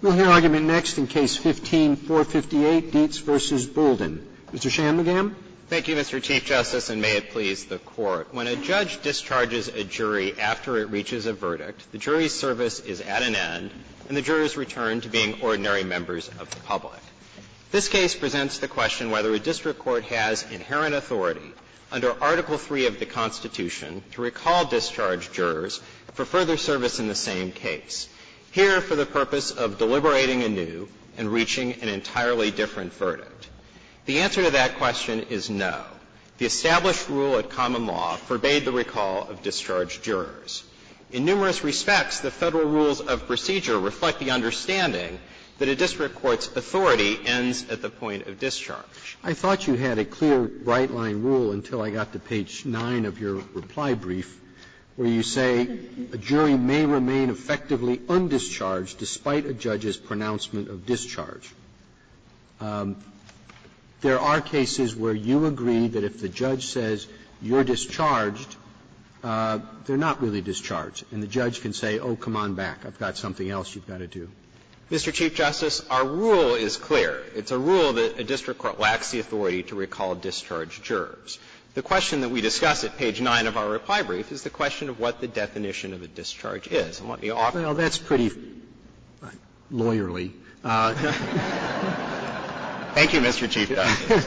We'll hear argument next in Case 15-458, Dietz v. Bouldin. Mr. Shanmugam. Shanmugam, Thank you, Mr. Chief Justice, and may it please the Court. When a judge discharges a jury after it reaches a verdict, the jury's service is at an end and the jurors return to being ordinary members of the public. This case presents the question whether a district court has inherent authority under Article III of the Constitution to recall discharged jurors for further service in the same case. Here, for the purpose of deliberating anew and reaching an entirely different verdict. The answer to that question is no. The established rule at common law forbade the recall of discharged jurors. In numerous respects, the Federal rules of procedure reflect the understanding that a district court's authority ends at the point of discharge. Roberts, I thought you had a clear right-line rule until I got to page 9 of your reply brief, where you say a jury may remain effectively undischarged despite a judge's pronouncement of discharge. There are cases where you agree that if the judge says you're discharged, they're not really discharged, and the judge can say, oh, come on back, I've got something else you've got to do. Shanmugam, Mr. Chief Justice, our rule is clear. It's a rule that a district court lacks the authority to recall discharged jurors. The question that we discuss at page 9 of our reply brief is the question of what the definition of a discharge is. And let me offer you that. Roberts, that's pretty lawyerly. Shanmugam, Thank you, Mr. Chief Justice.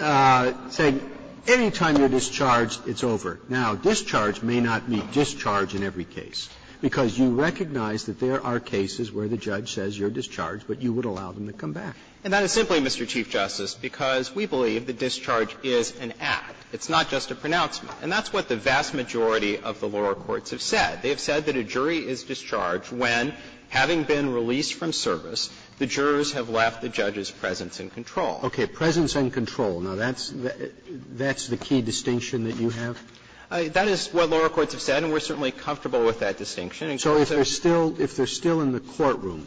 Roberts, saying any time you're discharged, it's over. Now, discharge may not mean discharge in every case, because you recognize that there are cases where the judge says you're discharged, but you would allow them to come back. Shanmugam, And that is simply, Mr. Chief Justice, because we believe that discharge is an act. It's not just a pronouncement. And that's what the vast majority of the lower courts have said. They have said that a jury is discharged when, having been released from service, the jurors have left the judge's presence in control. Roberts, Okay. Presence in control. Now, that's the key distinction that you have? Shanmugam, That is what lower courts have said, and we're certainly comfortable with that distinction. And so if there's still – if they're still in the courtroom,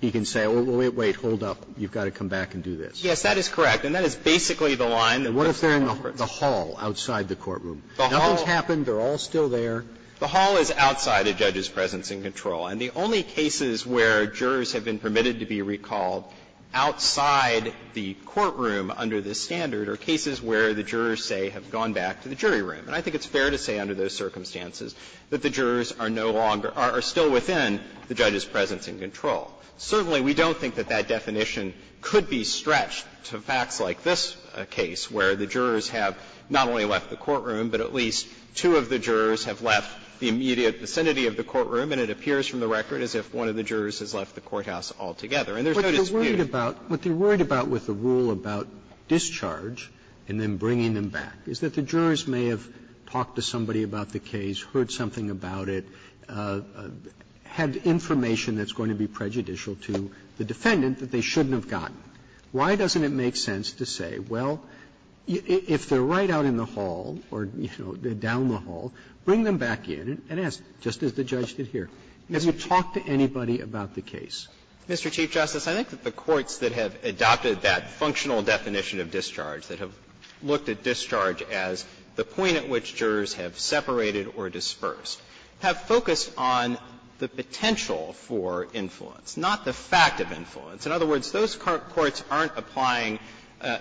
you can say, well, wait, wait. Hold up. You've got to come back and do this. Roberts, Yes, that is correct. And that is basically the line that most law courts have. Roberts, And what if they're in the hall outside the courtroom? Nothing's happened. They're all still there. Shanmugam, The hall is outside a judge's presence in control. And the only cases where jurors have been permitted to be recalled outside the courtroom under this standard are cases where the jurors say have gone back to the jury room. And I think it's fair to say under those circumstances that the jurors are no longer – are still within the judge's presence in control. Certainly, we don't think that that definition could be stretched to facts like this case, where the jurors have not only left the courtroom, but at least two of the jurors have left the immediate vicinity of the courtroom, and it appears from the record as if one of the jurors has left the courthouse altogether, and there's no dispute. Roberts, What they're worried about with the rule about discharge and then bringing them back is that the jurors may have talked to somebody about the case, heard something about it, had information that's going to be prejudicial to the defendant that they shouldn't have gotten. Why doesn't it make sense to say, well, if they're right out in the hall or, you know, down the hall, bring them back in and ask, just as the judge did here. Has he talked to anybody about the case? Shanmugam, Mr. Chief Justice, I think that the courts that have adopted that functional definition of discharge, that have looked at discharge as the point at which jurors have separated or dispersed, have focused on the potential for influence, not the fact of influence. In other words, those courts aren't applying,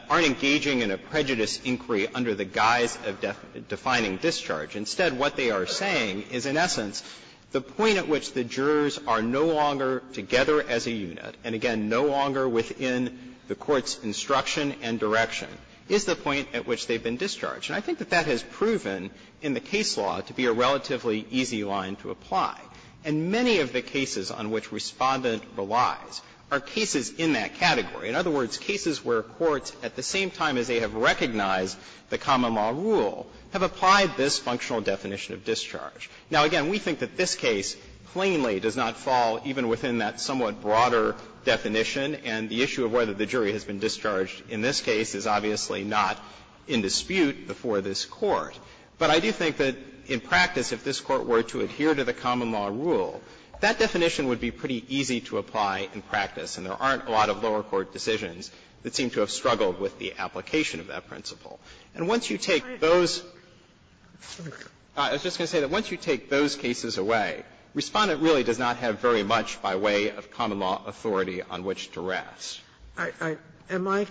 aren't engaging in a prejudice inquiry under the guise of defining discharge. Instead, what they are saying is, in essence, the point at which the jurors are no longer together as a unit, and again, no longer within the court's instruction and direction, is the point at which they've been discharged. And I think that that has proven in the case law to be a relatively easy line to apply. And many of the cases on which Respondent relies are cases in that category. In other words, cases where courts, at the same time as they have recognized the common law rule, have applied this functional definition of discharge. Now, again, we think that this case plainly does not fall even within that somewhat broader definition, and the issue of whether the jury has been discharged in this case is obviously not in dispute before this Court. But I do think that in practice, if this Court were to adhere to the common law rule, that definition would be pretty easy to apply in practice, and there aren't a lot of lower court decisions that seem to have struggled with the application of that principle. And once you take those – I was just going to say that once you take those cases away, Respondent really does not have very much by way of common law authority on which to rest. Sotomayor,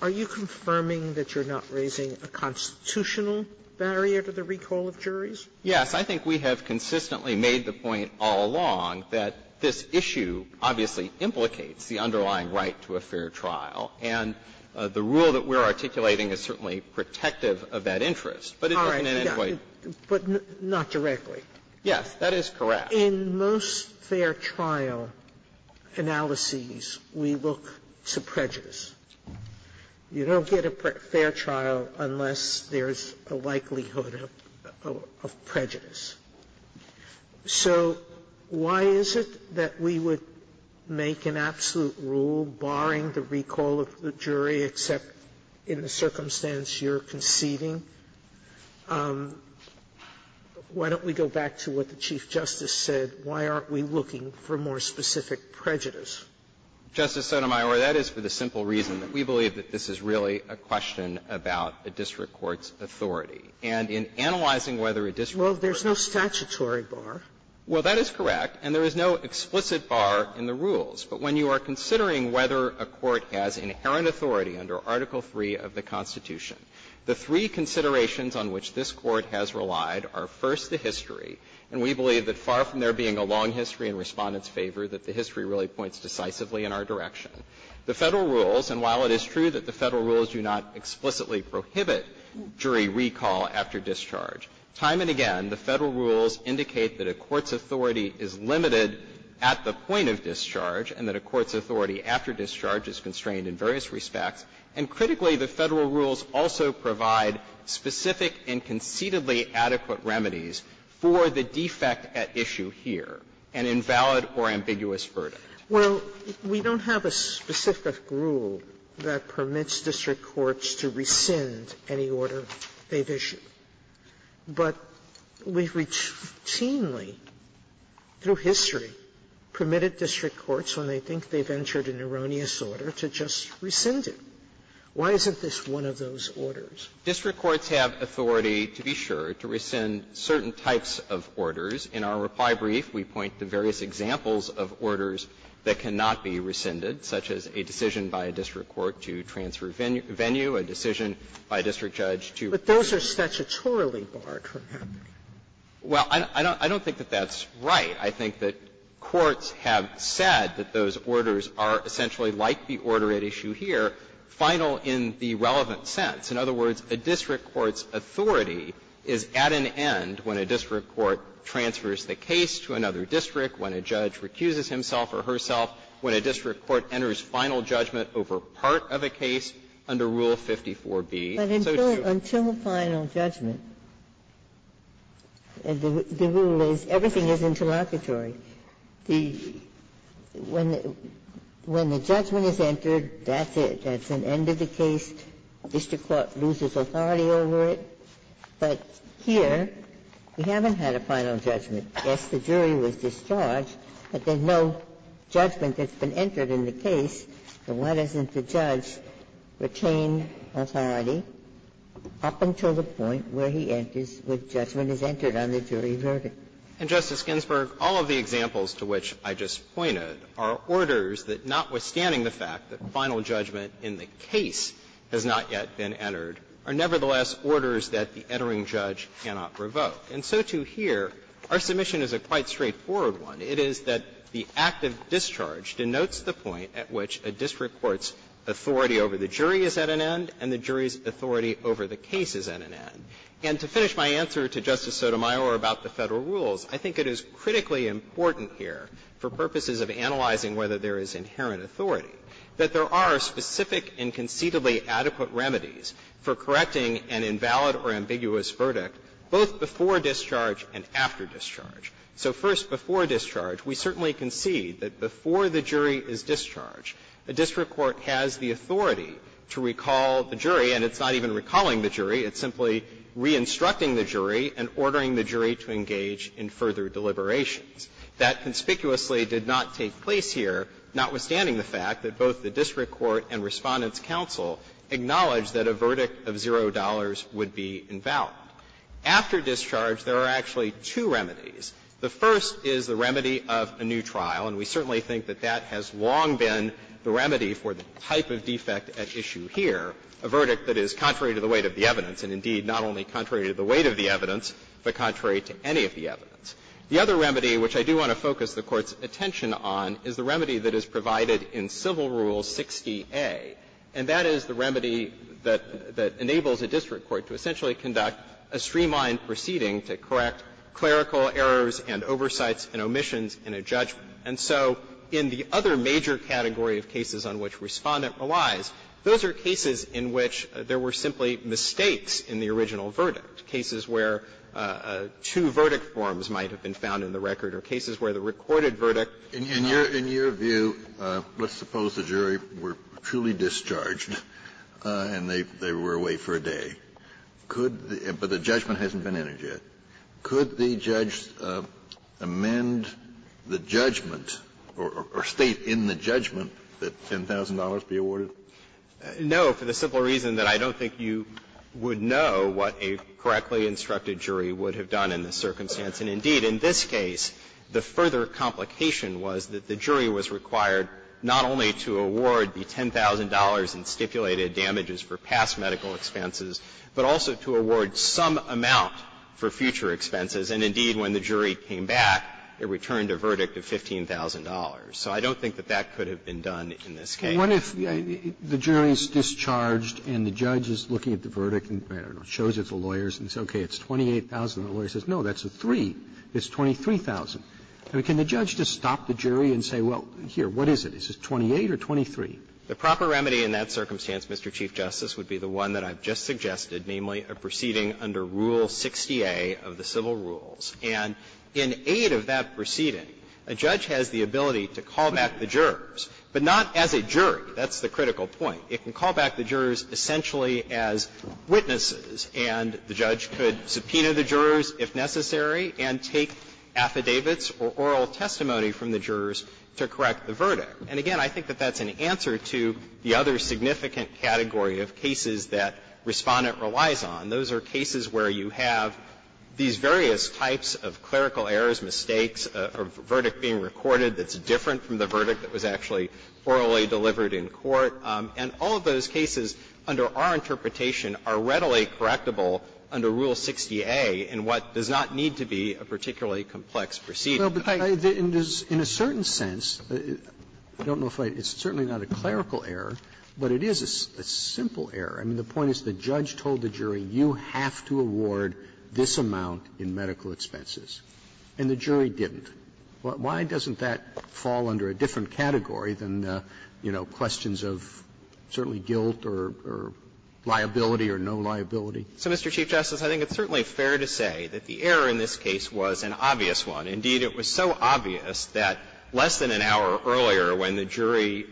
are you confirming that you're not raising a constitutional barrier to the recall of juries? Yes. I think we have consistently made the point all along that this issue obviously implicates the underlying right to a fair trial. And the rule that we're articulating is certainly protective of that interest. But it doesn't in any way – All right. But not directly. Yes. That is correct. Sotomayor, in most fair trial analyses, we look to prejudice. You don't get a fair trial unless there's a likelihood of prejudice. So why is it that we would make an absolute rule barring the recall of the jury, except in the circumstance you're conceding? Why don't we go back to what the Chief Justice said? Why aren't we looking for more specific prejudice? Justice Sotomayor, that is for the simple reason that we believe that this is really a question about a district court's authority. And in analyzing whether a district court's authority is inherent to the rule, there's no statutory bar. Well, that is correct, and there is no explicit bar in the rules. But when you are considering whether a court has inherent authority under Article III of the Constitution, the three considerations on which this Court has relied are, first, the history. And we believe that far from there being a long history in Respondent's favor, that the history really points decisively in our direction. The Federal rules, and while it is true that the Federal rules do not explicitly prohibit jury recall after discharge, time and again, the Federal rules indicate that a court's authority is limited at the point of discharge and that a court's the Federal rules also provide specific and concededly adequate remedies for the defect at issue here, an invalid or ambiguous verdict. Well, we don't have a specific rule that permits district courts to rescind any order they've issued. But we've routinely, through history, permitted district courts, when they think they've entered an erroneous order, to just rescind it. Why isn't this one of those orders? District courts have authority, to be sure, to rescind certain types of orders. In our reply brief, we point to various examples of orders that cannot be rescinded, such as a decision by a district court to transfer venue, a decision by a district judge to rescind. But those are statutorily barred from happening. Well, I don't think that that's right. I think that courts have said that those orders are essentially like the order at issue here, final in the relevant sense. In other words, a district court's authority is at an end when a district court transfers the case to another district, when a judge recuses himself or herself, when a district court enters final judgment over part of a case under Rule 54b. So to use a final judgment, the rule is everything is interlocutory. So when the judgment is entered, that's it, that's an end of the case, a district court loses authority over it. But here, we haven't had a final judgment. Yes, the jury was discharged, but there's no judgment that's been entered in the case, so why doesn't the judge retain authority up until the point where he enters when judgment is entered on the jury verdict? And, Justice Ginsburg, all of the examples to which I just pointed are orders that, notwithstanding the fact that final judgment in the case has not yet been entered, are nevertheless orders that the entering judge cannot revoke. And so, too, here, our submission is a quite straightforward one. It is that the act of discharge denotes the point at which a district court's authority over the jury is at an end and the jury's authority over the case is at an end. And to finish my answer to Justice Sotomayor about the Federal rules, I think it is critically important here, for purposes of analyzing whether there is inherent authority, that there are specific and conceitably adequate remedies for correcting an invalid or ambiguous verdict, both before discharge and after discharge. So first, before discharge, we certainly concede that before the jury is discharged, a district court has the authority to recall the jury, and it's not even recalling the jury. It's simply re-instructing the jury and ordering the jury to engage in further deliberations. That conspicuously did not take place here, notwithstanding the fact that both the district court and Respondent's counsel acknowledged that a verdict of $0 would be invalid. After discharge, there are actually two remedies. The first is the remedy of a new trial, and we certainly think that that has long been the remedy for the type of defect at issue here, a verdict that is contrary to the weight of the evidence, and indeed, not only contrary to the weight of the evidence, but contrary to any of the evidence. The other remedy, which I do want to focus the Court's attention on, is the remedy that is provided in Civil Rule 60A, and that is the remedy that enables a district court to essentially conduct a streamlined proceeding to correct clerical errors and oversights and omissions in a judgment. And so in the other major category of cases on which Respondent relies, those are cases in which there were simply mistakes in the original verdict, cases where two verdict forms might have been found in the record or cases where the recorded verdict was not. Kennedy. In your view, let's suppose the jury were truly discharged and they were away for a day, but the judgment hasn't been entered yet. Could the judge amend the judgment or state in the judgment that $10,000 be awarded? No, for the simple reason that I don't think you would know what a correctly instructed jury would have done in this circumstance. And indeed, in this case, the further complication was that the jury was required not only to award the $10,000 in stipulated damages for past medical expenses, but also to award some amount for future expenses. And indeed, when the jury came back, it returned a verdict of $15,000. So I don't think that that could have been done in this case. Roberts. And I wonder if the jury is discharged and the judge is looking at the verdict and, I don't know, shows it to lawyers and says, okay, it's $28,000. The lawyer says, no, that's a 3. It's $23,000. I mean, can the judge just stop the jury and say, well, here, what is it? Is it 28 or 23? The proper remedy in that circumstance, Mr. Chief Justice, would be the one that I've just suggested, namely a proceeding under Rule 60A of the civil rules. And in aid of that proceeding, a judge has the ability to call back the jurors, but not as a jury. That's the critical point. It can call back the jurors essentially as witnesses, and the judge could subpoena the jurors if necessary and take affidavits or oral testimony from the jurors to correct the verdict. And again, I think that that's an answer to the other significant category of cases that Respondent relies on. Those are cases where you have these various types of clerical errors, mistakes, a verdict being recorded that's different from the verdict that was actually orally delivered in court. And all of those cases under our interpretation are readily correctable under Rule 60A in what does not need to be a particularly complex proceeding. Roberts. Roberts. In a certain sense, I don't know if I can say it, it's certainly not a clerical error, but it is a simple error. I mean, the point is the judge told the jury, you have to award this amount in medical expenses. And the jury didn't. Why doesn't that fall under a different category than, you know, questions of certainly guilt or liability or no liability? So, Mr. Chief Justice, I think it's certainly fair to say that the error in this case was an obvious one. Indeed, it was so obvious that less than an hour earlier when the jury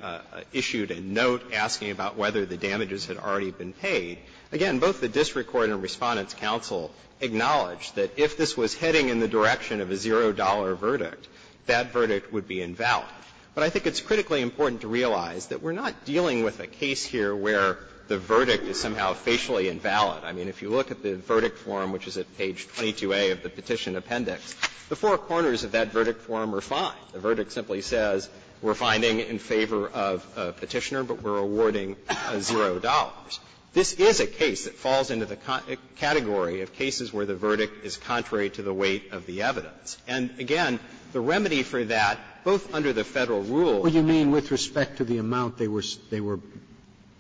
issued a note asking about whether the damages had already been paid, again, both the district court and Respondent's counsel acknowledged that if this was heading in the direction of a $0 verdict, that verdict would be invalid. But I think it's critically important to realize that we're not dealing with a case here where the verdict is somehow facially invalid. I mean, if you look at the verdict form, which is at page 22A of the petition appendix, the four corners of that verdict form are fine. The verdict simply says we're finding in favor of a Petitioner, but we're awarding $0. This is a case that falls into the category of cases where the verdict is contrary to the weight of the evidence. And again, the remedy for that, both under the Federal rule and under the Federal rule, is that the verdict is invalid. Roberts, what you mean with respect to the amount they were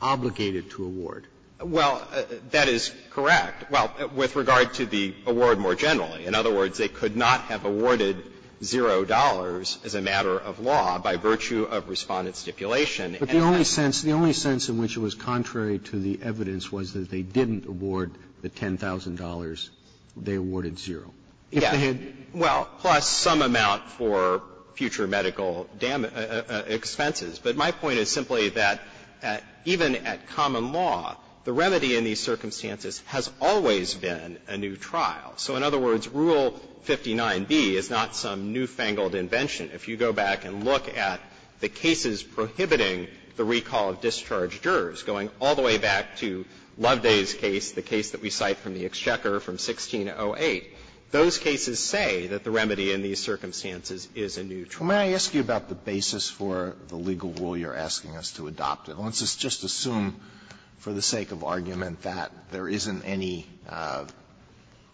obligated to award? Well, that is correct. Well, with regard to the award more generally. In other words, they could not have awarded $0 as a matter of law by virtue of Respondent's stipulation. But the only sense, the only sense in which it was contrary to the evidence was that they didn't award the $10,000, they awarded $0. Yes. Well, plus some amount for future medical expenses. But my point is simply that even at common law, the remedy in these circumstances has always been a new trial. So in other words, Rule 59B is not some newfangled invention. If you go back and look at the cases prohibiting the recall of discharged jurors, going all the way back to Loveday's case, the case that we cite from the Exchequer from 1608, those cases say that the remedy in these circumstances is a new trial. May I ask you about the basis for the legal rule you're asking us to adopt? Let's just assume, for the sake of argument, that there isn't any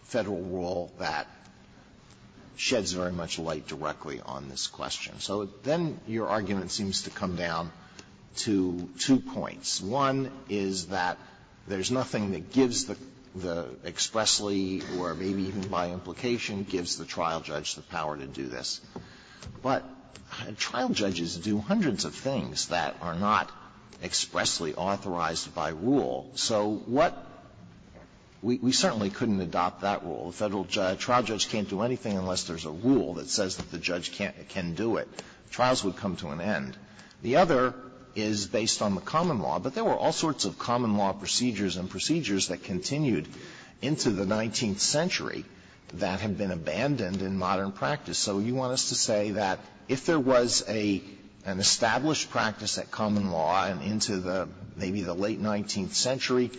Federal rule that does this question. So then your argument seems to come down to two points. One is that there's nothing that gives the expressly or maybe even by implication gives the trial judge the power to do this. But trial judges do hundreds of things that are not expressly authorized by rule. So what we certainly couldn't adopt that rule. The Federal trial judge can't do anything unless there's a rule that says that the judge can't do it. Trials would come to an end. The other is based on the common law. But there were all sorts of common law procedures and procedures that continued into the 19th century that had been abandoned in modern practice. So you want us to say that if there was an established practice at common law and into the maybe the late 19th century,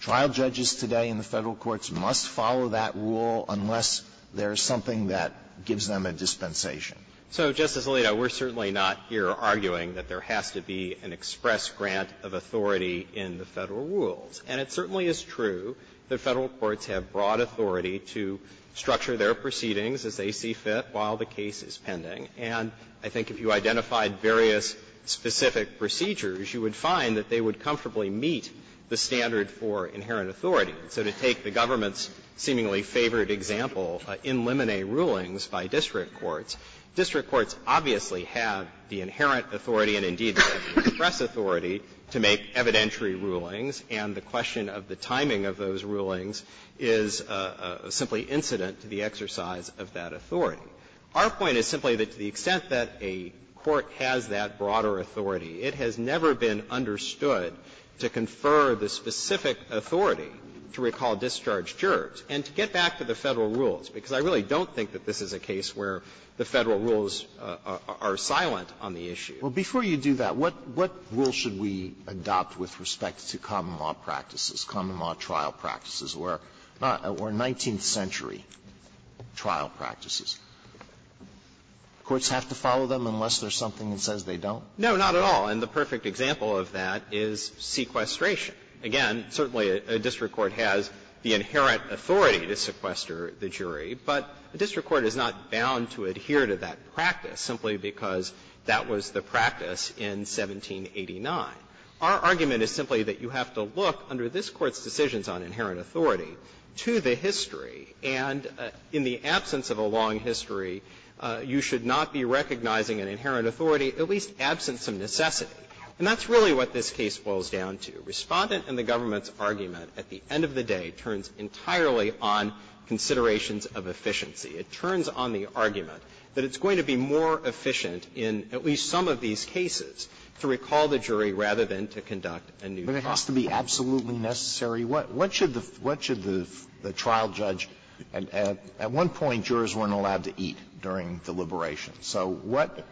trial judges today in the Federal courts must follow that rule unless there's something that gives them a dispensation. So, Justice Alito, we're certainly not here arguing that there has to be an express grant of authority in the Federal rules. And it certainly is true that Federal courts have broad authority to structure their proceedings as they see fit while the case is pending. And I think if you identified various specific procedures, you would find that they would comfortably meet the standard for inherent authority. So to take the government's seemingly favored example, in limine rulings by district courts, district courts obviously have the inherent authority and, indeed, the express authority to make evidentiary rulings. And the question of the timing of those rulings is simply incident to the exercise of that authority. Our point is simply that to the extent that a court has that broader authority, it has never been understood to confer the specific authority to recall discharged jurors. And to get back to the Federal rules, because I really don't think that this is a case where the Federal rules are silent on the issue. Alito, before you do that, what rule should we adopt with respect to common law practices, common law trial practices, or 19th century trial practices? Courts have to follow them unless there's something that says they don't? No, not at all. And the perfect example of that is sequestration. Again, certainly a district court has the inherent authority to sequester the jury, but a district court is not bound to adhere to that practice simply because that was the practice in 1789. Our argument is simply that you have to look, under this Court's decisions on inherent authority, to the history, and in the absence of a long history, you should not be recognizing an inherent authority, at least absent some necessity. And that's really what this case boils down to. Respondent and the government's argument, at the end of the day, turns entirely on considerations of efficiency. It turns on the argument that it's going to be more efficient in at least some of these cases to recall the jury rather than to conduct a new trial. But it has to be absolutely necessary? What should the trial judge at one point, jurors weren't allowed to eat during deliberation. So what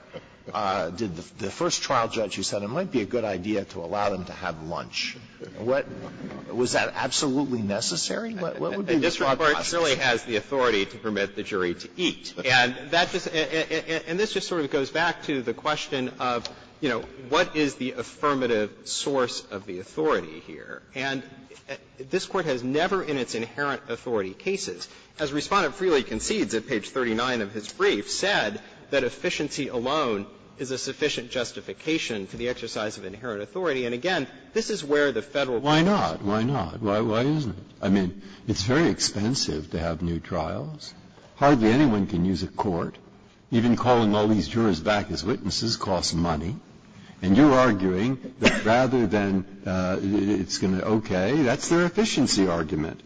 did the first trial judge who said it might be a good idea to allow them to have lunch, what, was that absolutely necessary? What would be the process? And this Court really has the authority to permit the jury to eat. And that just, and this just sort of goes back to the question of, you know, what is the affirmative source of the authority here? And this Court has never in its inherent authority cases, as Respondent Frehley concedes at page 39 of his brief, said that efficiency alone is a sufficient justification for the exercise of inherent authority. And again, this is where the Federal government's argument is. Breyer. Why not? Why not? Why isn't it? I mean, it's very expensive to have new trials. Hardly anyone can use a court. Even calling all these jurors back as witnesses costs money. And you're arguing that rather than it's going to, okay, that's their efficiency argument.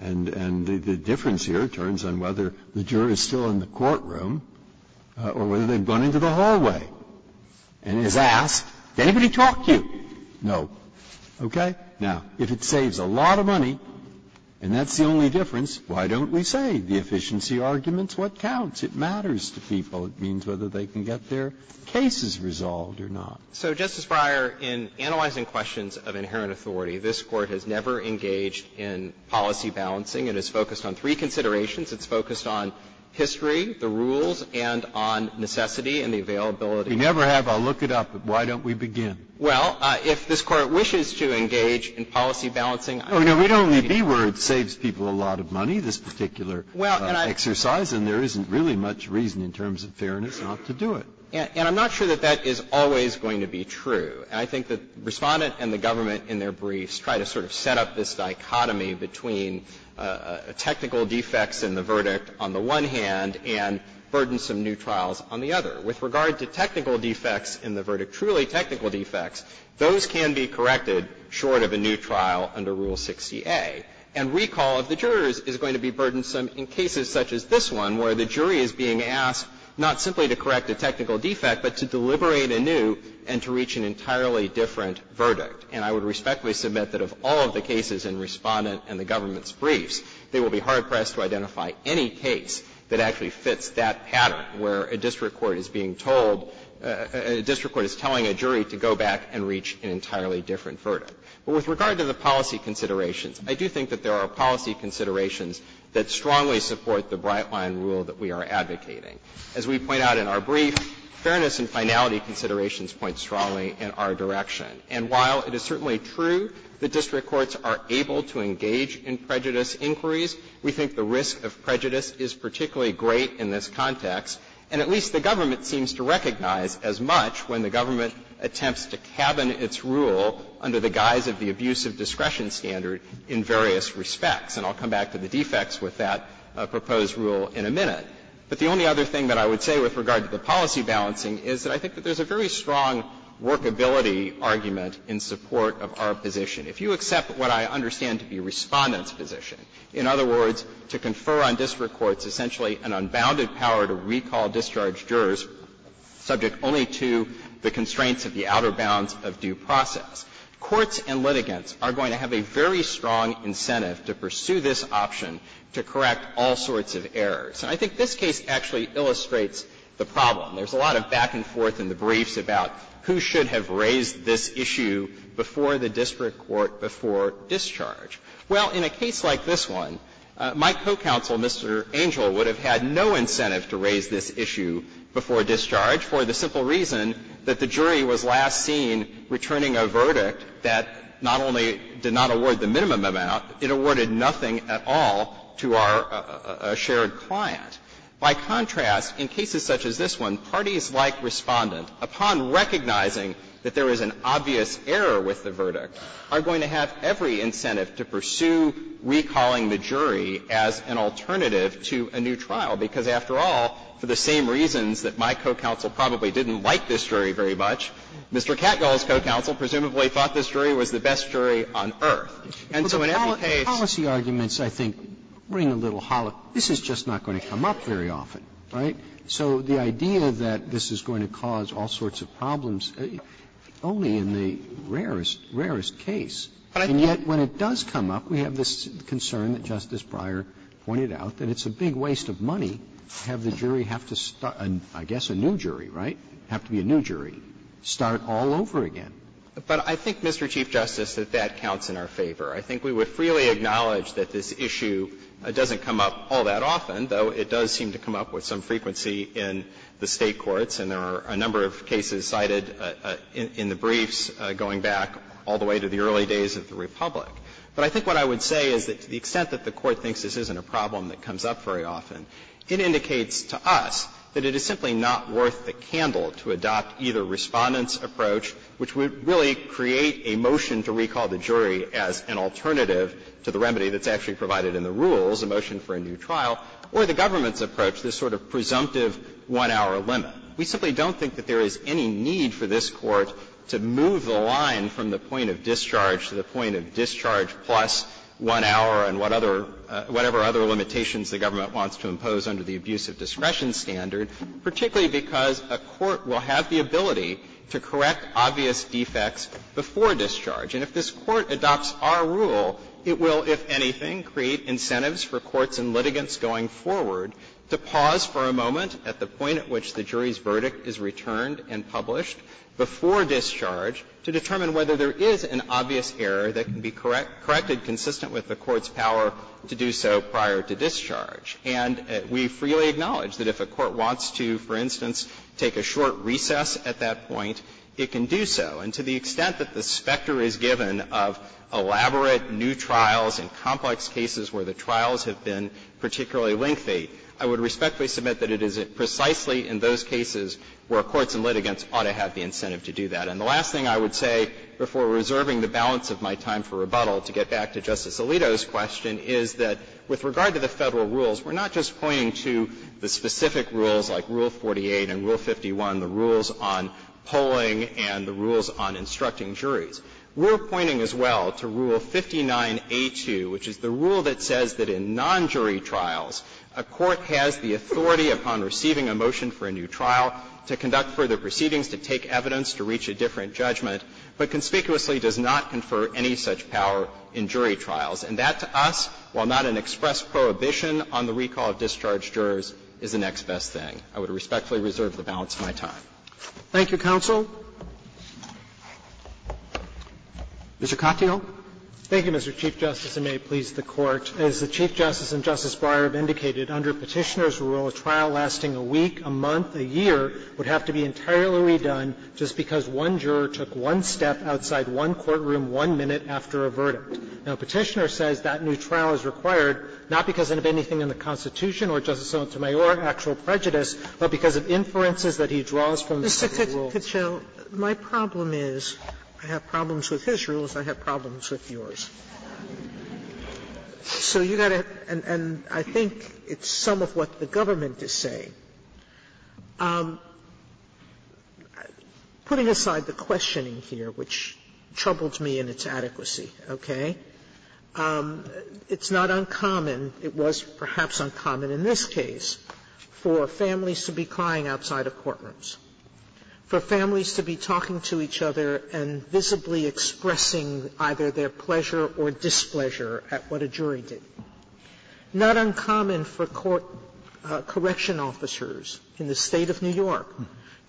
And the difference here turns on whether the juror is still in the courtroom or whether they've gone into the hallway and is asked, did anybody talk to you? No. Okay? Now, if it saves a lot of money and that's the only difference, why don't we say the efficiency argument's what counts? It matters to people. It means whether they can get their cases resolved or not. So, Justice Breyer, in analyzing questions of inherent authority, this Court has never engaged in policy balancing. It has focused on three considerations. It's focused on history, the rules, and on necessity and the availability. We never have a look it up, but why don't we begin? Well, if this Court wishes to engage in policy balancing, I think it's going to be a good idea. Oh, no, it would only be where it saves people a lot of money, this particular exercise, and there isn't really much reason in terms of fairness not to do it. And I'm not sure that that is always going to be true. And I think the Respondent and the government in their briefs try to sort of set up this dichotomy between technical defects in the verdict on the one hand and burdensome new trials on the other. With regard to technical defects in the verdict, truly technical defects, those can be corrected short of a new trial under Rule 60A. And recall of the jurors is going to be burdensome in cases such as this one, where the jury is being asked not simply to correct a technical defect, but to deliberate a new and to reach an entirely different verdict. And I would respectfully submit that of all of the cases in Respondent and the government's briefs, they will be hard-pressed to identify any case that actually fits that pattern, where a district court is being told or a district court is telling a jury to go back and reach an entirely different verdict. But with regard to the policy considerations, I do think that there are policy considerations that strongly support the Brightline rule that we are advocating. As we point out in our brief, fairness and finality considerations point strongly in our direction. And while it is certainly true that district courts are able to engage in prejudice inquiries, we think the risk of prejudice is particularly great in this context. And at least the government seems to recognize as much when the government attempts to cabin its rule under the guise of the abuse of discretion standard in various respects. And I'll come back to the defects with that proposed rule in a minute. But the only other thing that I would say with regard to the policy balancing is that I think that there's a very strong workability argument in support of our position. If you accept what I understand to be Respondent's position, in other words, to confer on district courts essentially an unbounded power to recall discharged jurors subject only to the constraints of the outer bounds of due process, courts and litigants are going to have a very strong incentive to pursue this option to correct all sorts of errors. And I think this case actually illustrates the problem. There's a lot of back and forth in the briefs about who should have raised this issue before the district court before discharge. Well, in a case like this one, my co-counsel, Mr. Angel, would have had no incentive to raise this issue before discharge for the simple reason that the jury was last seen returning a verdict that not only did not award the minimum amount, it awarded nothing at all to our shared client. By contrast, in cases such as this one, parties like Respondent, upon recognizing that there is an obvious error with the verdict, are going to have every incentive to pursue recalling the jury as an alternative to a new trial, because after all, for the same reasons that my co-counsel probably didn't like this jury very much, Mr. Katyal's co-counsel presumably thought this jury was the best jury on earth. And so in every case the jury was the best jury on earth. Roberts, the policy arguments, I think, ring a little hollow. This is just not going to come up very often, right? So the idea that this is going to cause all sorts of problems, only in the rarest, rarest case. And yet, when it does come up, we have this concern that Justice Breyer pointed out, that it's a big waste of money to have the jury have to start and, I guess, a new jury, right, have to be a new jury, start all over again. But I think, Mr. Chief Justice, that that counts in our favor. I think we would freely acknowledge that this issue doesn't come up all that often, though it does seem to come up with some frequency in the State courts. And there are a number of cases cited in the briefs going back all the way to the early days of the Republic. But I think what I would say is that to the extent that the Court thinks this isn't a problem that comes up very often, it indicates to us that it is simply not worth a candle to adopt either Respondent's approach, which would really create a motion to recall the jury as an alternative to the remedy that's actually provided in the rules, a motion for a new trial, or the government's approach, this sort of presumptive one-hour limit. We simply don't think that there is any need for this Court to move the line from the point of discharge to the point of discharge plus one hour and what other – whatever other limitations the government wants to impose under the abuse of discretion standard, particularly because a court will have the ability to correct obvious defects before discharge. And if this Court adopts our rule, it will, if anything, create incentives for courts and litigants going forward to pause for a moment at the point at which the jury's verdict is returned and published before discharge to determine whether there is an obvious error that can be corrected consistent with the Court's power to do so prior to discharge. And we freely acknowledge that if a court wants to, for instance, take a short recess at that point, it can do so. And to the extent that the specter is given of elaborate new trials and complex cases where the trials have been particularly lengthy, I would respectfully submit that it is precisely in those cases where courts and litigants ought to have the incentive to do that. And the last thing I would say before reserving the balance of my time for rebuttal to get back to Justice Alito's question is that with regard to the Federal rules, we're not just pointing to the specific rules like Rule 48 and Rule 51, the rules on polling and the rules on instructing juries. We're pointing as well to Rule 59A2, which is the rule that says that in non-jury trials, a court has the authority upon receiving a motion for a new trial to conduct further proceedings to take evidence to reach a different judgment, but conspicuously does not confer any such power in jury trials. And that, to us, while not an express prohibition on the recall of discharged jurors, is the next best thing. I would respectfully reserve the balance of my time. Roberts. Thank you, counsel. Mr. Katyal. Katyal, thank you, Mr. Chief Justice, and may it please the Court. As the Chief Justice and Justice Breyer have indicated, under Petitioner's rule, a trial lasting a week, a month, a year would have to be entirely redone just because one juror took one step outside one courtroom one minute after a verdict. Now, Petitioner says that new trial is required not because of anything in the Constitution or Justice Sotomayor's actual prejudice, but because of inferences that he draws from the rules. Sotomayor, my problem is I have problems with his rules, I have problems with yours. So you've got to – and I think it's some of what the government is saying. Putting aside the questioning here, which troubled me in its adequacy, okay, it's not uncommon, it was perhaps uncommon in this case, for families to be crying outside of courtrooms, for families to be talking to each other and visibly expressing either their pleasure or displeasure at what a jury did. It's not uncommon for court – correction officers in the State of New York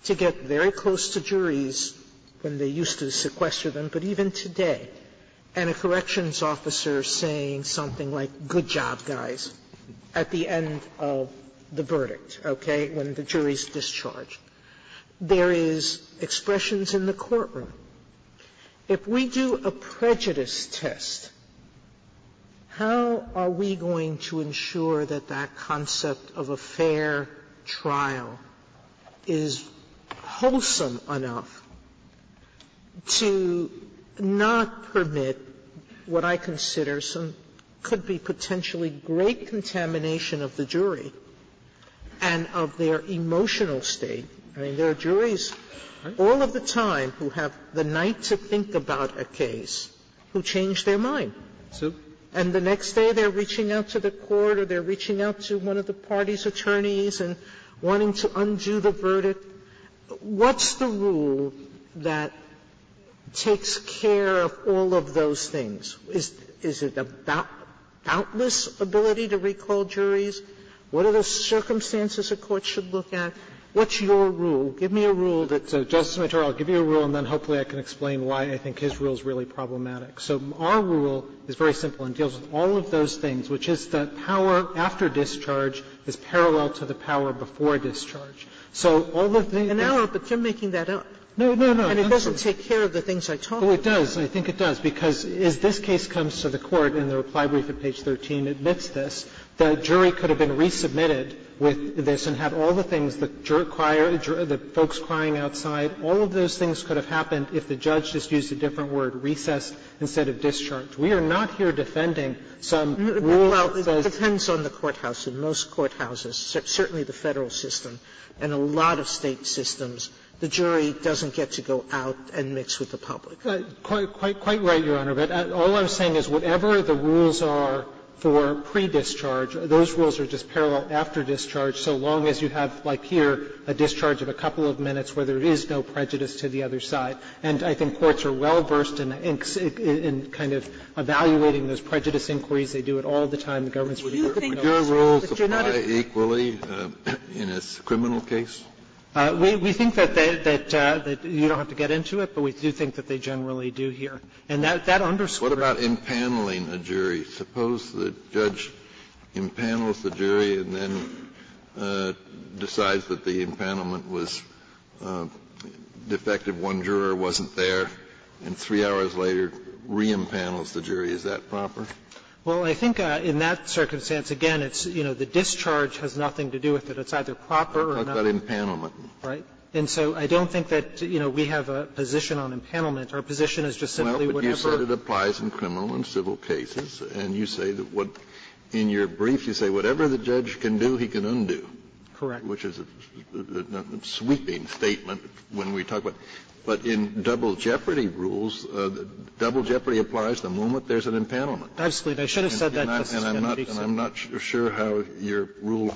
to get very close to juries when they used to sequester them, but even today. And a corrections officer saying something like, good job, guys, at the end of the verdict, okay, when the jury's discharged. There is expressions in the courtroom. If we do a prejudice test, how are we going to ensure that that concept of a fair trial is wholesome enough to not permit what I consider some – could be potentially great contamination of the jury and of their emotional state? I mean, there are juries all of the time who have the night to think about a case who change their mind. And the next day they're reaching out to the court or they're reaching out to one of the party's attorneys and wanting to undo the verdict. What's the rule that takes care of all of those things? Is it a doubtless ability to recall juries? What are the circumstances a court should look at? What's your rule? Give me a rule that's a – Justice Sotomayor, I'll give you a rule and then hopefully I can explain why I think his rule is really problematic. So our rule is very simple and deals with all of those things, which is that power after discharge is parallel to the power before discharge. So all of the things that – Sotomayor, but you're making that up. No, no, no. And it doesn't take care of the things I talk about. Oh, it does. I think it does, because as this case comes to the court and the reply brief at page 13 admits this, the jury could have been resubmitted with this and had all the things the jury – the folks crying outside, all of those things could have happened if the judge just used a different word, recessed, instead of discharged. We are not here defending some rule that says – Well, it depends on the courthouse. In most courthouses, certainly the Federal system and a lot of State systems, the jury doesn't get to go out and mix with the public. Quite right, Your Honor. But all I'm saying is whatever the rules are for pre-discharge, those rules are just a discharge of a couple of minutes where there is no prejudice to the other side. And I think courts are well-versed in kind of evaluating those prejudice inquiries. They do it all the time. The government's really good at those. But you're not a – Would your rules apply equally in a criminal case? We think that they – that you don't have to get into it, but we do think that they generally do here. And that underscores – What about impaneling a jury? Suppose the judge impanels the jury and then decides that the impanelment was defective, one juror wasn't there, and three hours later re-impanels the jury. Is that proper? Well, I think in that circumstance, again, it's, you know, the discharge has nothing to do with it. It's either proper or not. What about impanelment? Right. And so I don't think that, you know, we have a position on impanelment. Our position is just simply whatever – And you say that what – in your brief you say whatever the judge can do, he can undo. Correct. Which is a sweeping statement when we talk about – but in double jeopardy rules, double jeopardy applies the moment there's an impanelment. Absolutely. I should have said that, Justice Kennedy. And I'm not sure how your rule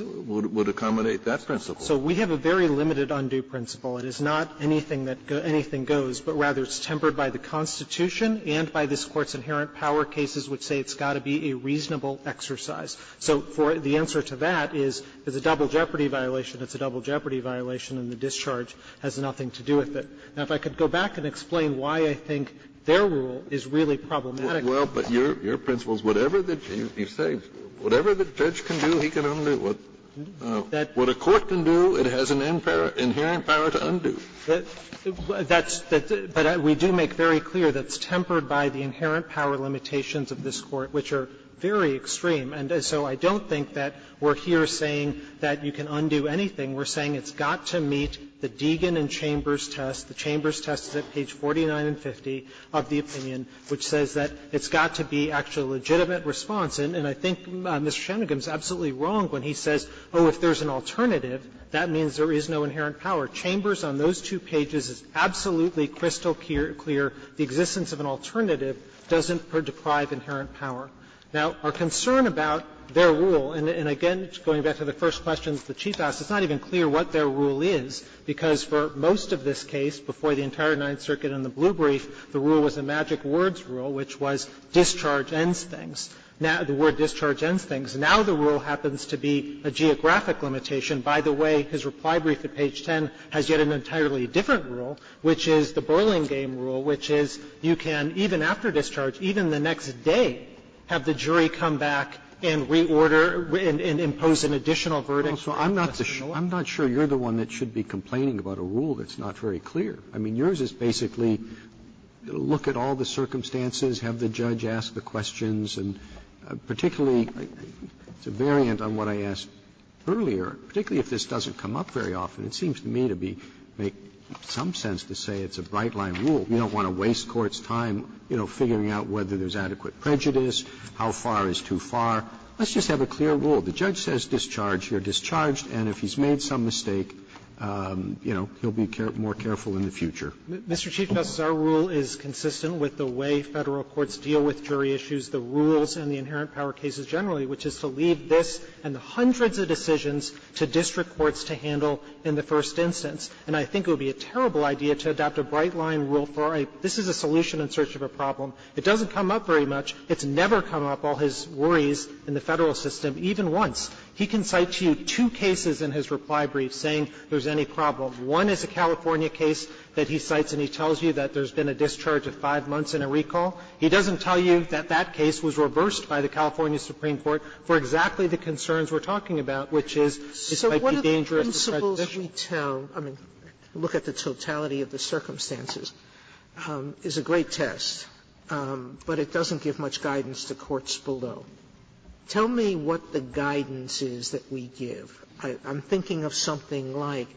would accommodate that principle. So we have a very limited undue principle. It is not anything that goes – anything goes, but rather it's tempered by the Constitution and by this Court's inherent power cases which say it's got to be a reasonable exercise. So for the answer to that is it's a double jeopardy violation, it's a double jeopardy violation, and the discharge has nothing to do with it. Now, if I could go back and explain why I think their rule is really problematic. Well, but your principle is whatever the – you say whatever the judge can do, he can undo. What a court can do, it has an inherent power to undo. That's – but we do make very clear that it's tempered by the inherent power limitations of this Court, which are very extreme. And so I don't think that we're here saying that you can undo anything. We're saying it's got to meet the Deegan and Chambers test. The Chambers test is at page 49 and 50 of the opinion, which says that it's got to be actually a legitimate response. And I think Mr. Shanmugam is absolutely wrong when he says, oh, if there's an alternative, that means there is no inherent power. Chambers, on those two pages, is absolutely crystal clear, the existence of an alternative doesn't deprive inherent power. Now, our concern about their rule, and again, going back to the first questions the Chief asked, it's not even clear what their rule is, because for most of this case, before the entire Ninth Circuit and the Blue Brief, the rule was a magic-words rule, which was discharge ends things. Now the word discharge ends things. Now the rule happens to be a geographic limitation. By the way, his reply brief at page 10 has yet an entirely different rule, which is the boiling game rule, which is you can, even after discharge, even the next day, have the jury come back and reorder and impose an additional verdict. Roberts. Roberts. I'm not sure you're the one that should be complaining about a rule that's not very clear. I mean, yours is basically look at all the circumstances, have the judge ask the questions, and particularly, it's a variant on what I asked earlier, particularly if this doesn't come up very often. It seems to me to be, make some sense to say it's a bright-line rule. We don't want to waste courts' time, you know, figuring out whether there's adequate prejudice, how far is too far. Let's just have a clear rule. The judge says discharge, you're discharged, and if he's made some mistake, you know, he'll be more careful in the future. Mr. Chief Justice, our rule is consistent with the way Federal courts deal with jury issues, the rules and the inherent power cases generally, which is to leave this and the hundreds of decisions to district courts to handle in the first instance. And I think it would be a terrible idea to adopt a bright-line rule for a, this is a solution in search of a problem. It doesn't come up very much. It's never come up, all his worries in the Federal system, even once. He can cite to you two cases in his reply brief saying there's any problem. One is a California case that he cites and he tells you that there's been a discharge of five months in a recall. He doesn't tell you that that case was reversed by the California Supreme Court for exactly the concerns we're talking about, which is it might be dangerous Sotomayor So what are the principles we tell? I mean, look at the totality of the circumstances. It's a great test, but it doesn't give much guidance to courts below. Tell me what the guidance is that we give. I'm thinking of something like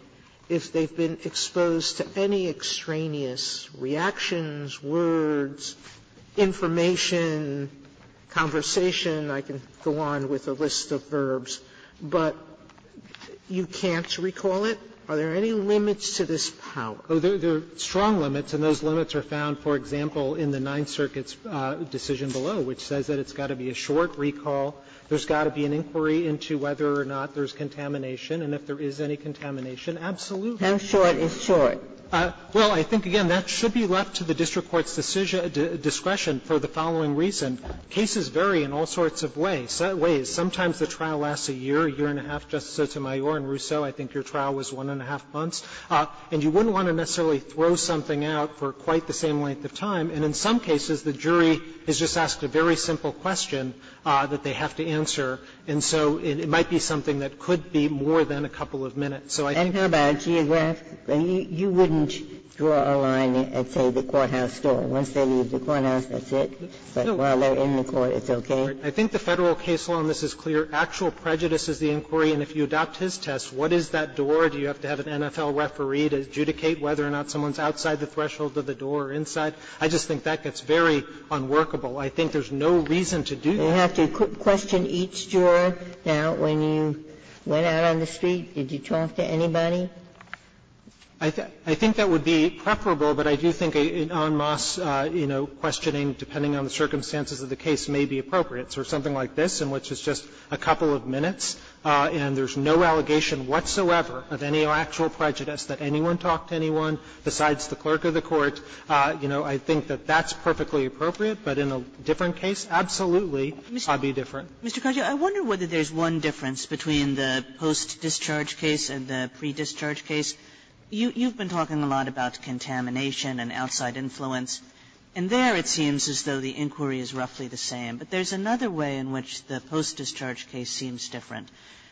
if they've been exposed to any extraneous reactions, words, information, conversation, I can go on with a list of verbs, but you can't recall it, are there any limits to this power? There are strong limits, and those limits are found, for example, in the Ninth Circuit's decision below, which says that it's got to be a short recall, there's got to be an inquiry into whether or not there's contamination, and if there is any contamination, absolutely. And short is short. Well, I think, again, that should be left to the district court's decision to discretion for the following reason. Cases vary in all sorts of ways. Sometimes the trial lasts a year, a year and a half, Justice Sotomayor, and, Rousseau, I think your trial was one and a half months. And you wouldn't want to necessarily throw something out for quite the same length of time, and in some cases, the jury is just asked a very simple question that they have to answer, and so it might be something that could be more than a couple of minutes. So I think that's what I'm trying to say. Ginsburg's case is that you wouldn't draw a line at, say, the courthouse door. Once they leave the courthouse, that's it. But while they're in the court, it's okay. I think the Federal case law, and this is clear, actual prejudice is the inquiry, and if you adopt his test, what is that door? Do you have to have an NFL referee to adjudicate whether or not someone's outside the threshold of the door or inside? I just think that gets very unworkable. I think there's no reason to do that. Ginsburg's case is that you have to question each juror. Now, when you went out on the street, did you talk to anybody? I think that would be preferable, but I do think an en masse, you know, questioning depending on the circumstances of the case may be appropriate. So something like this, in which it's just a couple of minutes, and there's no allegation whatsoever of any actual prejudice that anyone talked to anyone besides the clerk of the court, you know, I think that that's perfectly appropriate. But in a different case, absolutely, it would be different. Kagan. Kagan. Kagan. I wonder whether there's one difference between the post-discharge case and the pre-discharge case. You've been talking a lot about contamination and outside influence, and there it seems as though the inquiry is roughly the same. But there's another way in which the post-discharge case seems different,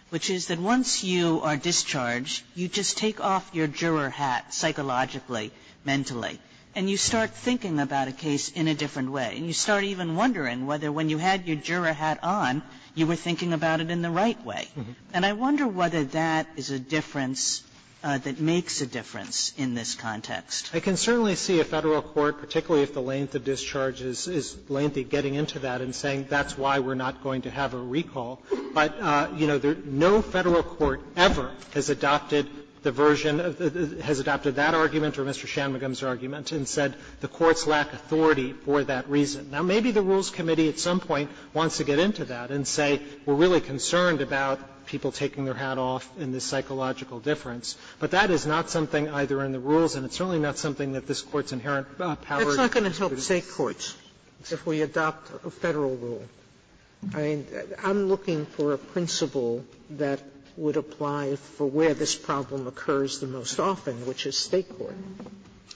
which is that once you are discharged, you just take off your juror hat psychologically, mentally, and you start thinking about a case in a different way. And you start even wondering whether when you had your juror hat on, you were thinking about it in the right way. And I wonder whether that is a difference that makes a difference in this context. Katyala, I can certainly see a Federal court, particularly if the length of discharge is lengthy, getting into that and saying that's why we're not going to have a recall. But, you know, no Federal court ever has adopted the version of the – has adopted either that argument or Mr. Shanmugam's argument and said the courts lack authority for that reason. Now, maybe the Rules Committee at some point wants to get into that and say we're really concerned about people taking their hat off in this psychological difference. But that is not something either in the rules, and it's certainly not something that this Court's inherent power to do. Sotomayor, that's not going to help State courts if we adopt a Federal rule. I mean, I'm looking for a principle that would apply for where this problem occurs the most often, which is State court.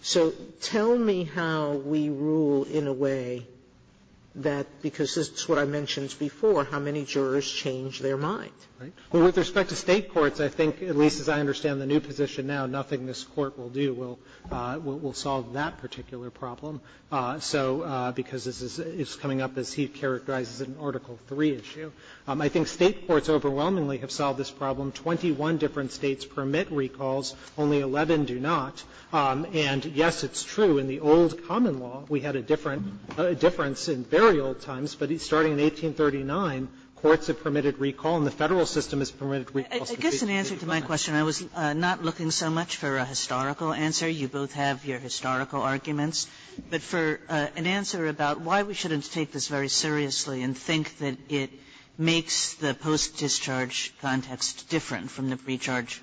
So tell me how we rule in a way that, because this is what I mentioned before, how many jurors change their mind. Katyala, with respect to State courts, I think, at least as I understand the new position now, nothing this Court will do will solve that particular problem. So because this is coming up, as he characterizes it, an Article III issue. I think State courts overwhelmingly have solved this problem. Twenty-one different States permit recalls, only 11 do not. And, yes, it's true, in the old common law, we had a difference in very old times. But starting in 1839, courts have permitted recall, and the Federal system has permitted recalls. Kagan, I guess in answer to my question, I was not looking so much for a historical answer. You both have your historical arguments. But for an answer about why we shouldn't take this very seriously and think that it makes the post-discharge context different from the pre-charge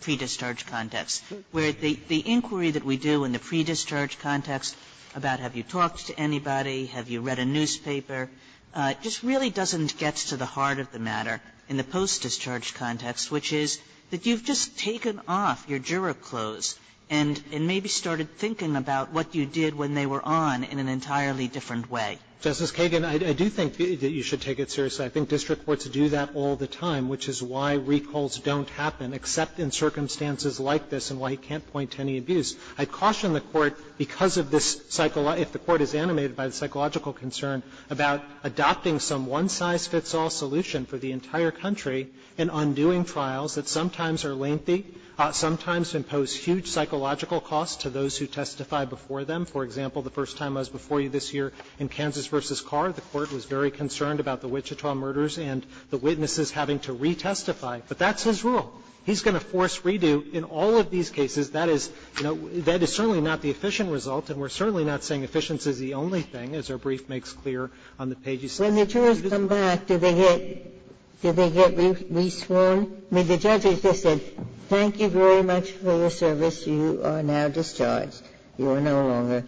pre-discharge context, where the inquiry that we do in the pre-discharge context about have you talked to anybody, have you read a newspaper, just really doesn't get to the heart of the matter in the post-discharge context, which is that you've just taken off your juror clothes and maybe started thinking about what you did when they were on in an interrogation. I think district courts do that all the time, which is why recalls don't happen, except in circumstances like this and why you can't point to any abuse. I caution the Court because of this psychology, if the Court is animated by the psychological concern, about adopting some one-size-fits-all solution for the entire country in undoing trials that sometimes are lengthy, sometimes impose huge psychological costs to those who testify before them. For example, the first time I was before you this year in Kansas v. Carr, the Court was very concerned about the Wichita murders and the witnesses having to re-testify. But that's his rule. He's going to force redo in all of these cases. That is, you know, that is certainly not the efficient result, and we're certainly not saying efficiency is the only thing, as our brief makes clear on the page you see. Ginsburg, when the jurors come back, do they get re-sworn? I mean, the judge has just said, thank you very much for your service. You are now discharged. You are no longer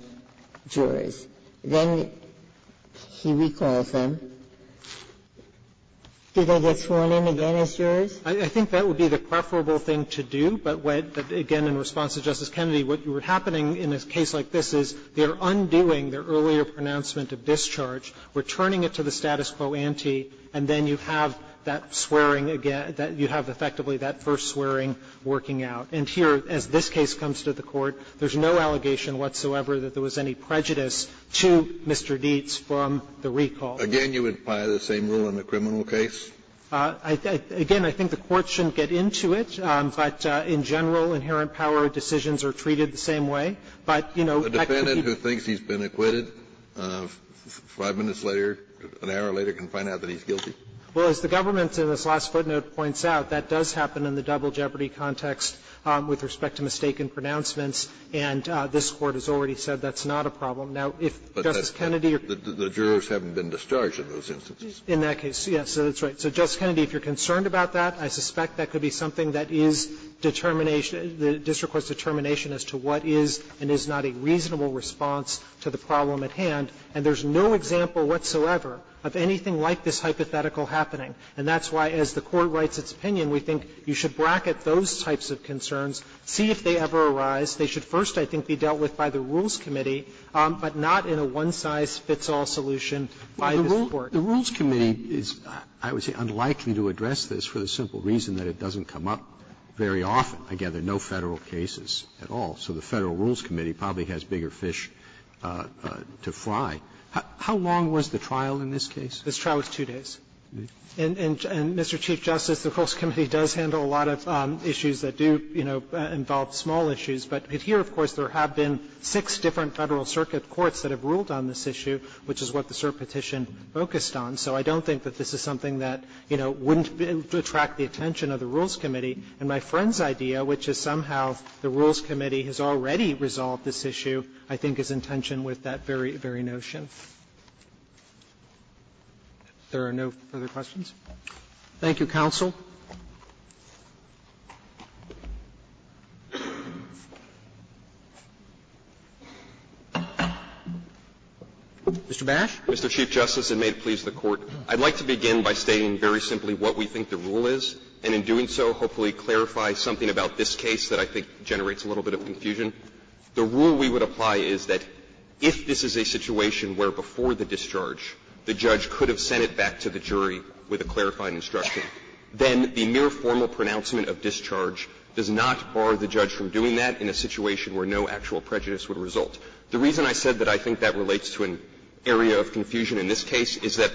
jurors. Then he recalls them. Do they get sworn in again as jurors? I think that would be the preferable thing to do, but again, in response to Justice Kennedy, what you were happening in a case like this is they are undoing their earlier pronouncement of discharge, returning it to the status quo ante, and then you have that swearing again that you have effectively that first swearing working out. And here, as this case comes to the Court, there's no allegation whatsoever that there was any prejudice to Mr. Dietz from the recall. Again, you would apply the same rule in the criminal case? Again, I think the Court shouldn't get into it, but in general, inherent power decisions are treated the same way. But, you know, I could be ---- A defendant who thinks he's been acquitted, 5 minutes later, an hour later, can find out that he's guilty? Well, as the government in this last footnote points out, that does happen in the double jeopardy context with respect to mistaken pronouncements, and this Court has already said that's not a problem. Now, if Justice Kennedy or the jurors haven't been discharged in those instances. In that case, yes, so that's right. So, Justice Kennedy, if you're concerned about that, I suspect that could be something that is determination, the district court's determination as to what is and is not a reasonable response to the problem at hand. And there's no example whatsoever of anything like this hypothetical happening. And that's why, as the Court writes its opinion, we think you should bracket those types of concerns, see if they ever arise. They should first, I think, be dealt with by the Rules Committee, but not in a one-size-fits-all solution by this Court. Roberts. Roberts. The Rules Committee is, I would say, unlikely to address this for the simple reason that it doesn't come up very often. I gather no Federal cases at all. So the Federal Rules Committee probably has bigger fish to fry. How long was the trial in this case? This trial was 2 days. And, Mr. Chief Justice, the Rules Committee does handle a lot of issues that do, you But here, of course, there have been six different Federal circuit courts that have ruled on this issue, which is what the cert petition focused on. So I don't think that this is something that, you know, wouldn't attract the attention of the Rules Committee. And my friend's idea, which is somehow the Rules Committee has already resolved this issue, I think is in tension with that very, very notion. If there are no further questions. Roberts. Thank you, counsel. Mr. Bash. Mr. Chief Justice, and may it please the Court, I'd like to begin by stating very simply what we think the rule is, and in doing so, hopefully clarify something about this case that I think generates a little bit of confusion. The rule we would apply is that if this is a situation where before the discharge, the judge could have sent it back to the jury with a clarifying instruction, then the mere formal pronouncement of discharge does not bar the judge from doing that in a situation where no actual prejudice would result. The reason I said that I think that relates to an area of confusion in this case is that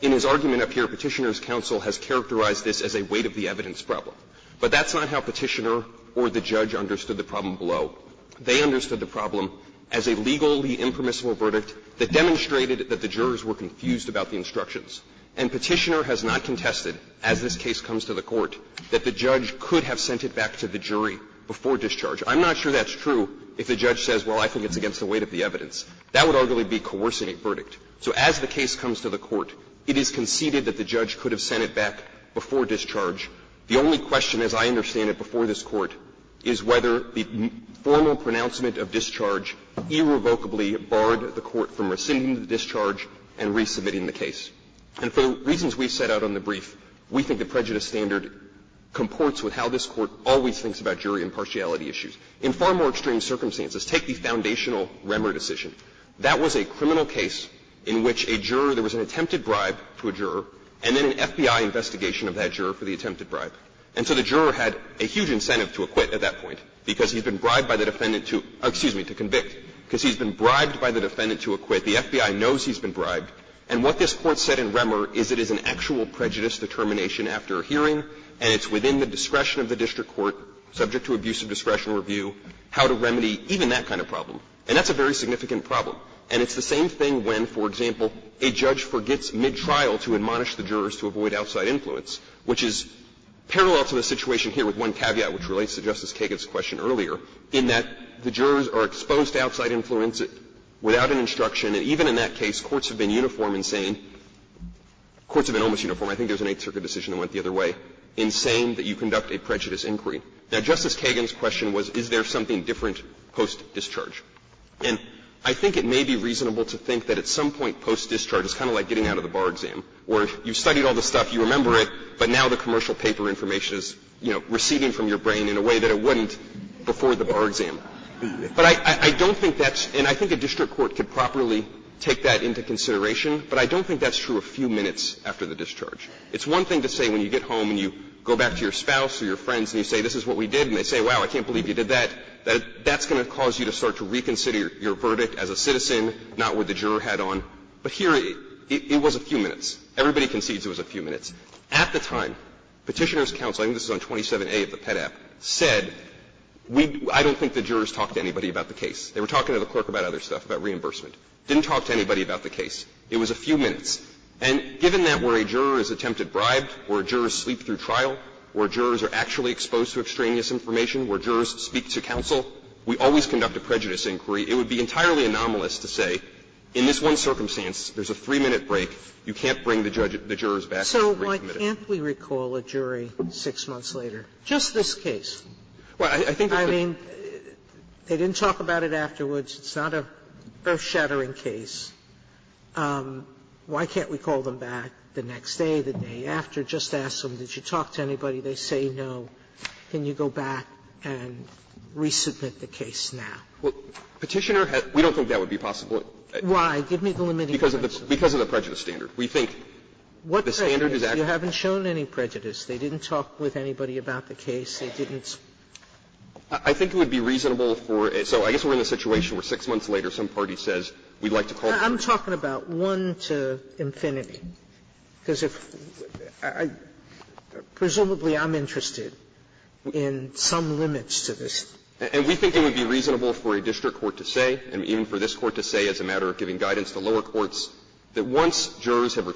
in his argument up here, Petitioner's counsel has characterized this as a weight of the evidence problem. But that's not how Petitioner or the judge understood the problem below. They understood the problem as a legally impermissible verdict that demonstrated that the jurors were confused about the instructions. And Petitioner has not contested, as this case comes to the Court, that the judge could have sent it back to the jury before discharge. I'm not sure that's true if the judge says, well, I think it's against the weight of the evidence. That would arguably be a coercive verdict. So as the case comes to the Court, it is conceded that the judge could have sent it back before discharge. The only question, as I understand it, before this Court is whether the formal pronouncement of discharge irrevocably barred the Court from rescinding the discharge and resubmitting the case. And for the reasons we set out on the brief, we think the prejudice standard comports with how this Court always thinks about jury impartiality issues. In far more extreme circumstances, take the Foundational Remmer decision. That was a criminal case in which a juror, there was an attempted bribe to a juror, and then an FBI investigation of that juror for the attempted bribe. And so the juror had a huge incentive to acquit at that point because he's been bribed by the defendant to, excuse me, to convict because he's been bribed by the defendant to acquit. The FBI knows he's been bribed. And what this Court said in Remmer is it is an actual prejudice determination after a hearing, and it's within the discretion of the district court, subject to abuse of discretion review, how to remedy even that kind of problem. And that's a very significant problem. And it's the same thing when, for example, a judge forgets mid-trial to admonish the jurors to avoid outside influence, which is parallel to the situation here with one caveat, which relates to Justice Kagan's question earlier, in that the jurors are exposed to outside influence without an instruction. And even in that case, courts have been uniform in saying – courts have been almost uniform – I think there's an Eighth Circuit decision that went the other way – in saying that you conduct a prejudice inquiry. Now, Justice Kagan's question was, is there something different post-discharge? And I think it may be reasonable to think that at some point post-discharge is kind of like getting out of the bar exam, where you've studied all this stuff, you remember it, but now the commercial paper information is, you know, receding from your brain in a way that it wouldn't before the bar exam. But I don't think that's – and I think a district court could properly take that into consideration, but I don't think that's true a few minutes after the discharge. It's one thing to say when you get home and you go back to your spouse or your friends and you say, this is what we did, and they say, wow, I can't believe you did that, that that's going to cause you to start to reconsider your verdict as a citizen, not with the juror hat on. But here it was a few minutes. Everybody concedes it was a few minutes. At the time, Petitioner's counsel – I think this is on 27A of the PEDAP – said, I don't think the jurors talked to anybody about the case. They were talking to the clerk about other stuff, about reimbursement. Didn't talk to anybody about the case. It was a few minutes. And given that where a juror is attempted bribed, where jurors sleep through trial, where jurors are actually exposed to extraneous information, where jurors speak to counsel, we always conduct a prejudice inquiry. It would be entirely anomalous to say, in this one circumstance, there's a three-minute break, you can't bring the jurors back and recommit it. Sotomayor So why can't we recall a jury six months later? Just this case. I mean, they didn't talk about it afterwards. It's not a earth-shattering case. Why can't we call them back the next day, the day after, just ask them, did you talk to anybody? They say no. Can you go back and resubmit the case now? Petitioner has – we don't think that would be possible. Why? Give me the limiting evidence. Because of the prejudice standard. We think the standard is actually – You haven't shown any prejudice. They didn't talk with anybody about the case. They didn't – I think it would be reasonable for – so I guess we're in a situation where six months later some party says we'd like to call the jury. I'm talking about one to infinity, because if – presumably, I'm interested in some limits to this. And we think it would be reasonable for a district court to say, and even for this court to say as a matter of giving guidance to lower courts, that once jurors have a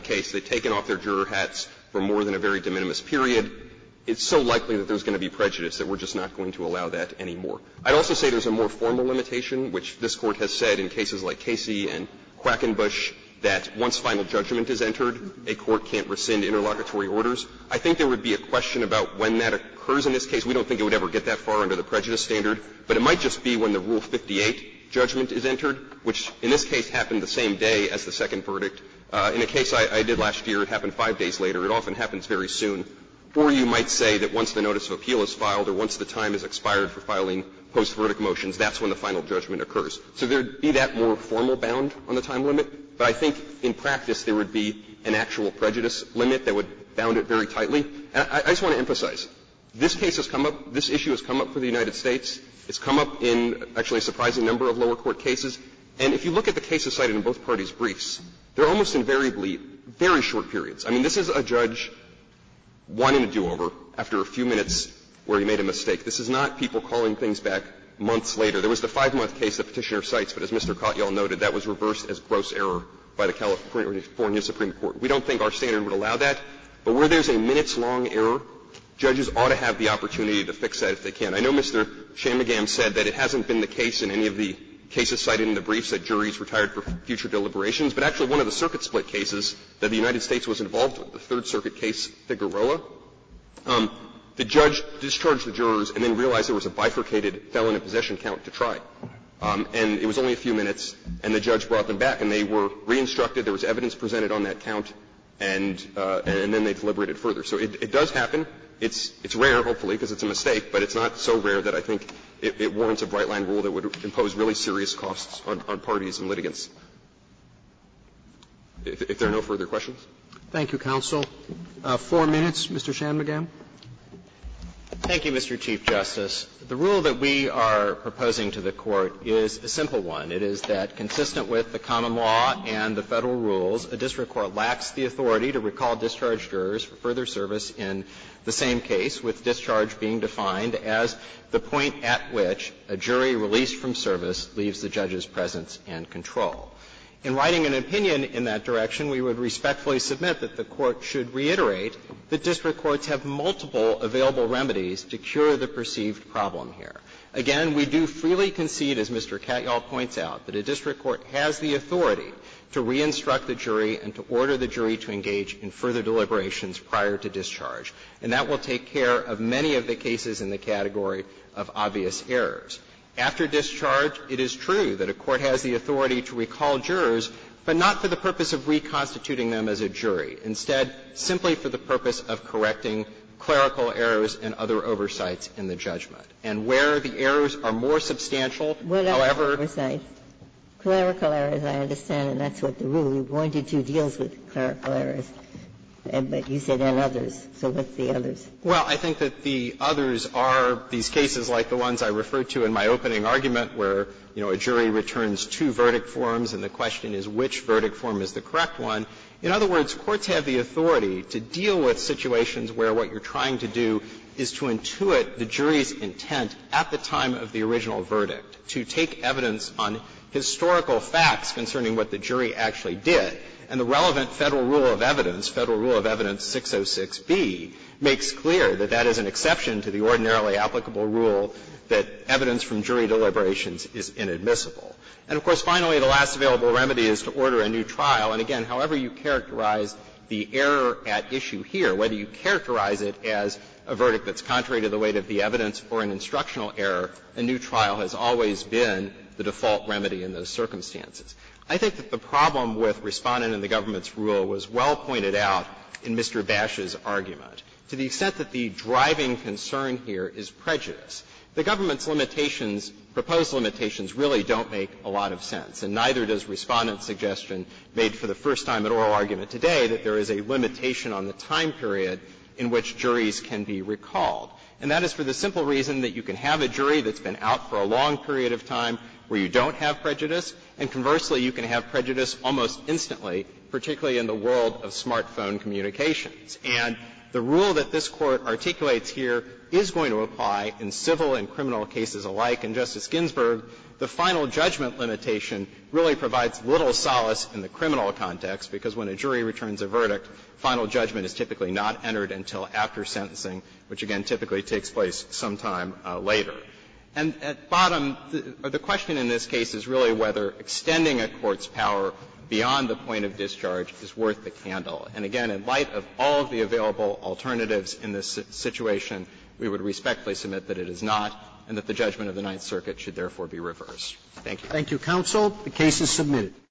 case, they've taken off their juror hats for more than a very de minimis period, it's so likely that there's going to be prejudice that we're just not going to allow that anymore. I'd also say there's a more formal limitation, which this Court has said in cases like Casey and Quackenbush, that once final judgment is entered, a court can't rescind interlocutory orders. I think there would be a question about when that occurs in this case. We don't think it would ever get that far under the prejudice standard, but it might just be when the Rule 58 judgment is entered, which in this case happened the same day as the second verdict. In a case I did last year, it happened five days later. It often happens very soon. Or you might say that once the notice of appeal is filed or once the time is expired for filing post-verdict motions, that's when the final judgment occurs. So there would be that more formal bound on the time limit, but I think in practice there would be an actual prejudice limit that would bound it very tightly. And I just want to emphasize, this case has come up, this issue has come up for the United States. It's come up in actually a surprising number of lower court cases. And if you look at the cases cited in both parties' briefs, they're almost invariably very short periods. I mean, this is a judge wanting a do-over after a few minutes where he made a mistake. This is not people calling things back months later. There was the five-month case the Petitioner cites, but as Mr. Cott, you all noted, that was reversed as gross error by the California Supreme Court. We don't think our standard would allow that, but where there's a minutes-long error, judges ought to have the opportunity to fix that if they can. And I know Mr. Chamigam said that it hasn't been the case in any of the cases cited in the briefs that juries retired for future deliberations, but actually one of the circuit-split cases that the United States was involved with, the Third Circuit case Figueroa, the judge discharged the jurors and then realized there was a bifurcated felon in possession count to try. And it was only a few minutes, and the judge brought them back, and they were re-instructed. There was evidence presented on that count, and then they deliberated further. So it does happen. It's rare, hopefully, because it's a mistake, but it's not so rare that I think it warrants a bright-line rule that would impose really serious costs on parties in litigants. If there are no further questions. Roberts. Thank you, counsel. Four minutes, Mr. Chamigam. Thank you, Mr. Chief Justice. The rule that we are proposing to the Court is a simple one. It is that, consistent with the common law and the Federal rules, a district court lacks the authority to recall discharged jurors for further service in the same case, with discharge being defined as the point at which a jury released from service leaves the judge's presence and control. In writing an opinion in that direction, we would respectfully submit that the Court should reiterate that district courts have multiple available remedies to cure the perceived problem here. Again, we do freely concede, as Mr. Katyal points out, that a district court has the authority to order the jury to engage in further deliberations prior to discharge, and that will take care of many of the cases in the category of obvious errors. After discharge, it is true that a court has the authority to recall jurors, but not for the purpose of reconstituting them as a jury. Instead, simply for the purpose of correcting clerical errors and other oversights in the judgment. Ginsburg. And I'm not sure that that's the case with clerical errors. But you said and others. So what's the others? Katyal. Well, I think that the others are these cases like the ones I referred to in my opening argument, where, you know, a jury returns two verdict forms and the question is which verdict form is the correct one. In other words, courts have the authority to deal with situations where what you're trying to do is to intuit the jury's intent at the time of the original verdict, to take evidence on historical facts concerning what the jury actually did. And the relevant Federal rule of evidence, Federal Rule of Evidence 606b, makes clear that that is an exception to the ordinarily applicable rule that evidence from jury deliberations is inadmissible. And, of course, finally, the last available remedy is to order a new trial. And again, however you characterize the error at issue here, whether you characterize it as a verdict that's contrary to the weight of the evidence or an instructional error, a new trial has always been the default remedy in those circumstances. I think that the problem with Respondent and the government's rule was well pointed out in Mr. Bash's argument, to the extent that the driving concern here is prejudice. The government's limitations, proposed limitations, really don't make a lot of sense, and neither does Respondent's suggestion made for the first time in oral argument today that there is a limitation on the time period in which juries can be recalled. And that is for the simple reason that you can have a jury that's been out for a long period of time where you don't have prejudice, and conversely, you can have prejudice almost instantly, particularly in the world of smartphone communications. And the rule that this Court articulates here is going to apply in civil and criminal cases alike. And, Justice Ginsburg, the final judgment limitation really provides little solace in the criminal context, because when a jury returns a verdict, final judgment is typically not entered until after sentencing, which, again, typically takes place sometime later. And at bottom, the question in this case is really whether extending a court's power beyond the point of discharge is worth the candle. And again, in light of all of the available alternatives in this situation, we would respectfully submit that it is not, and that the judgment of the Ninth Circuit should therefore be reversed. Thank you. Roberts. Thank you, counsel. The case is submitted.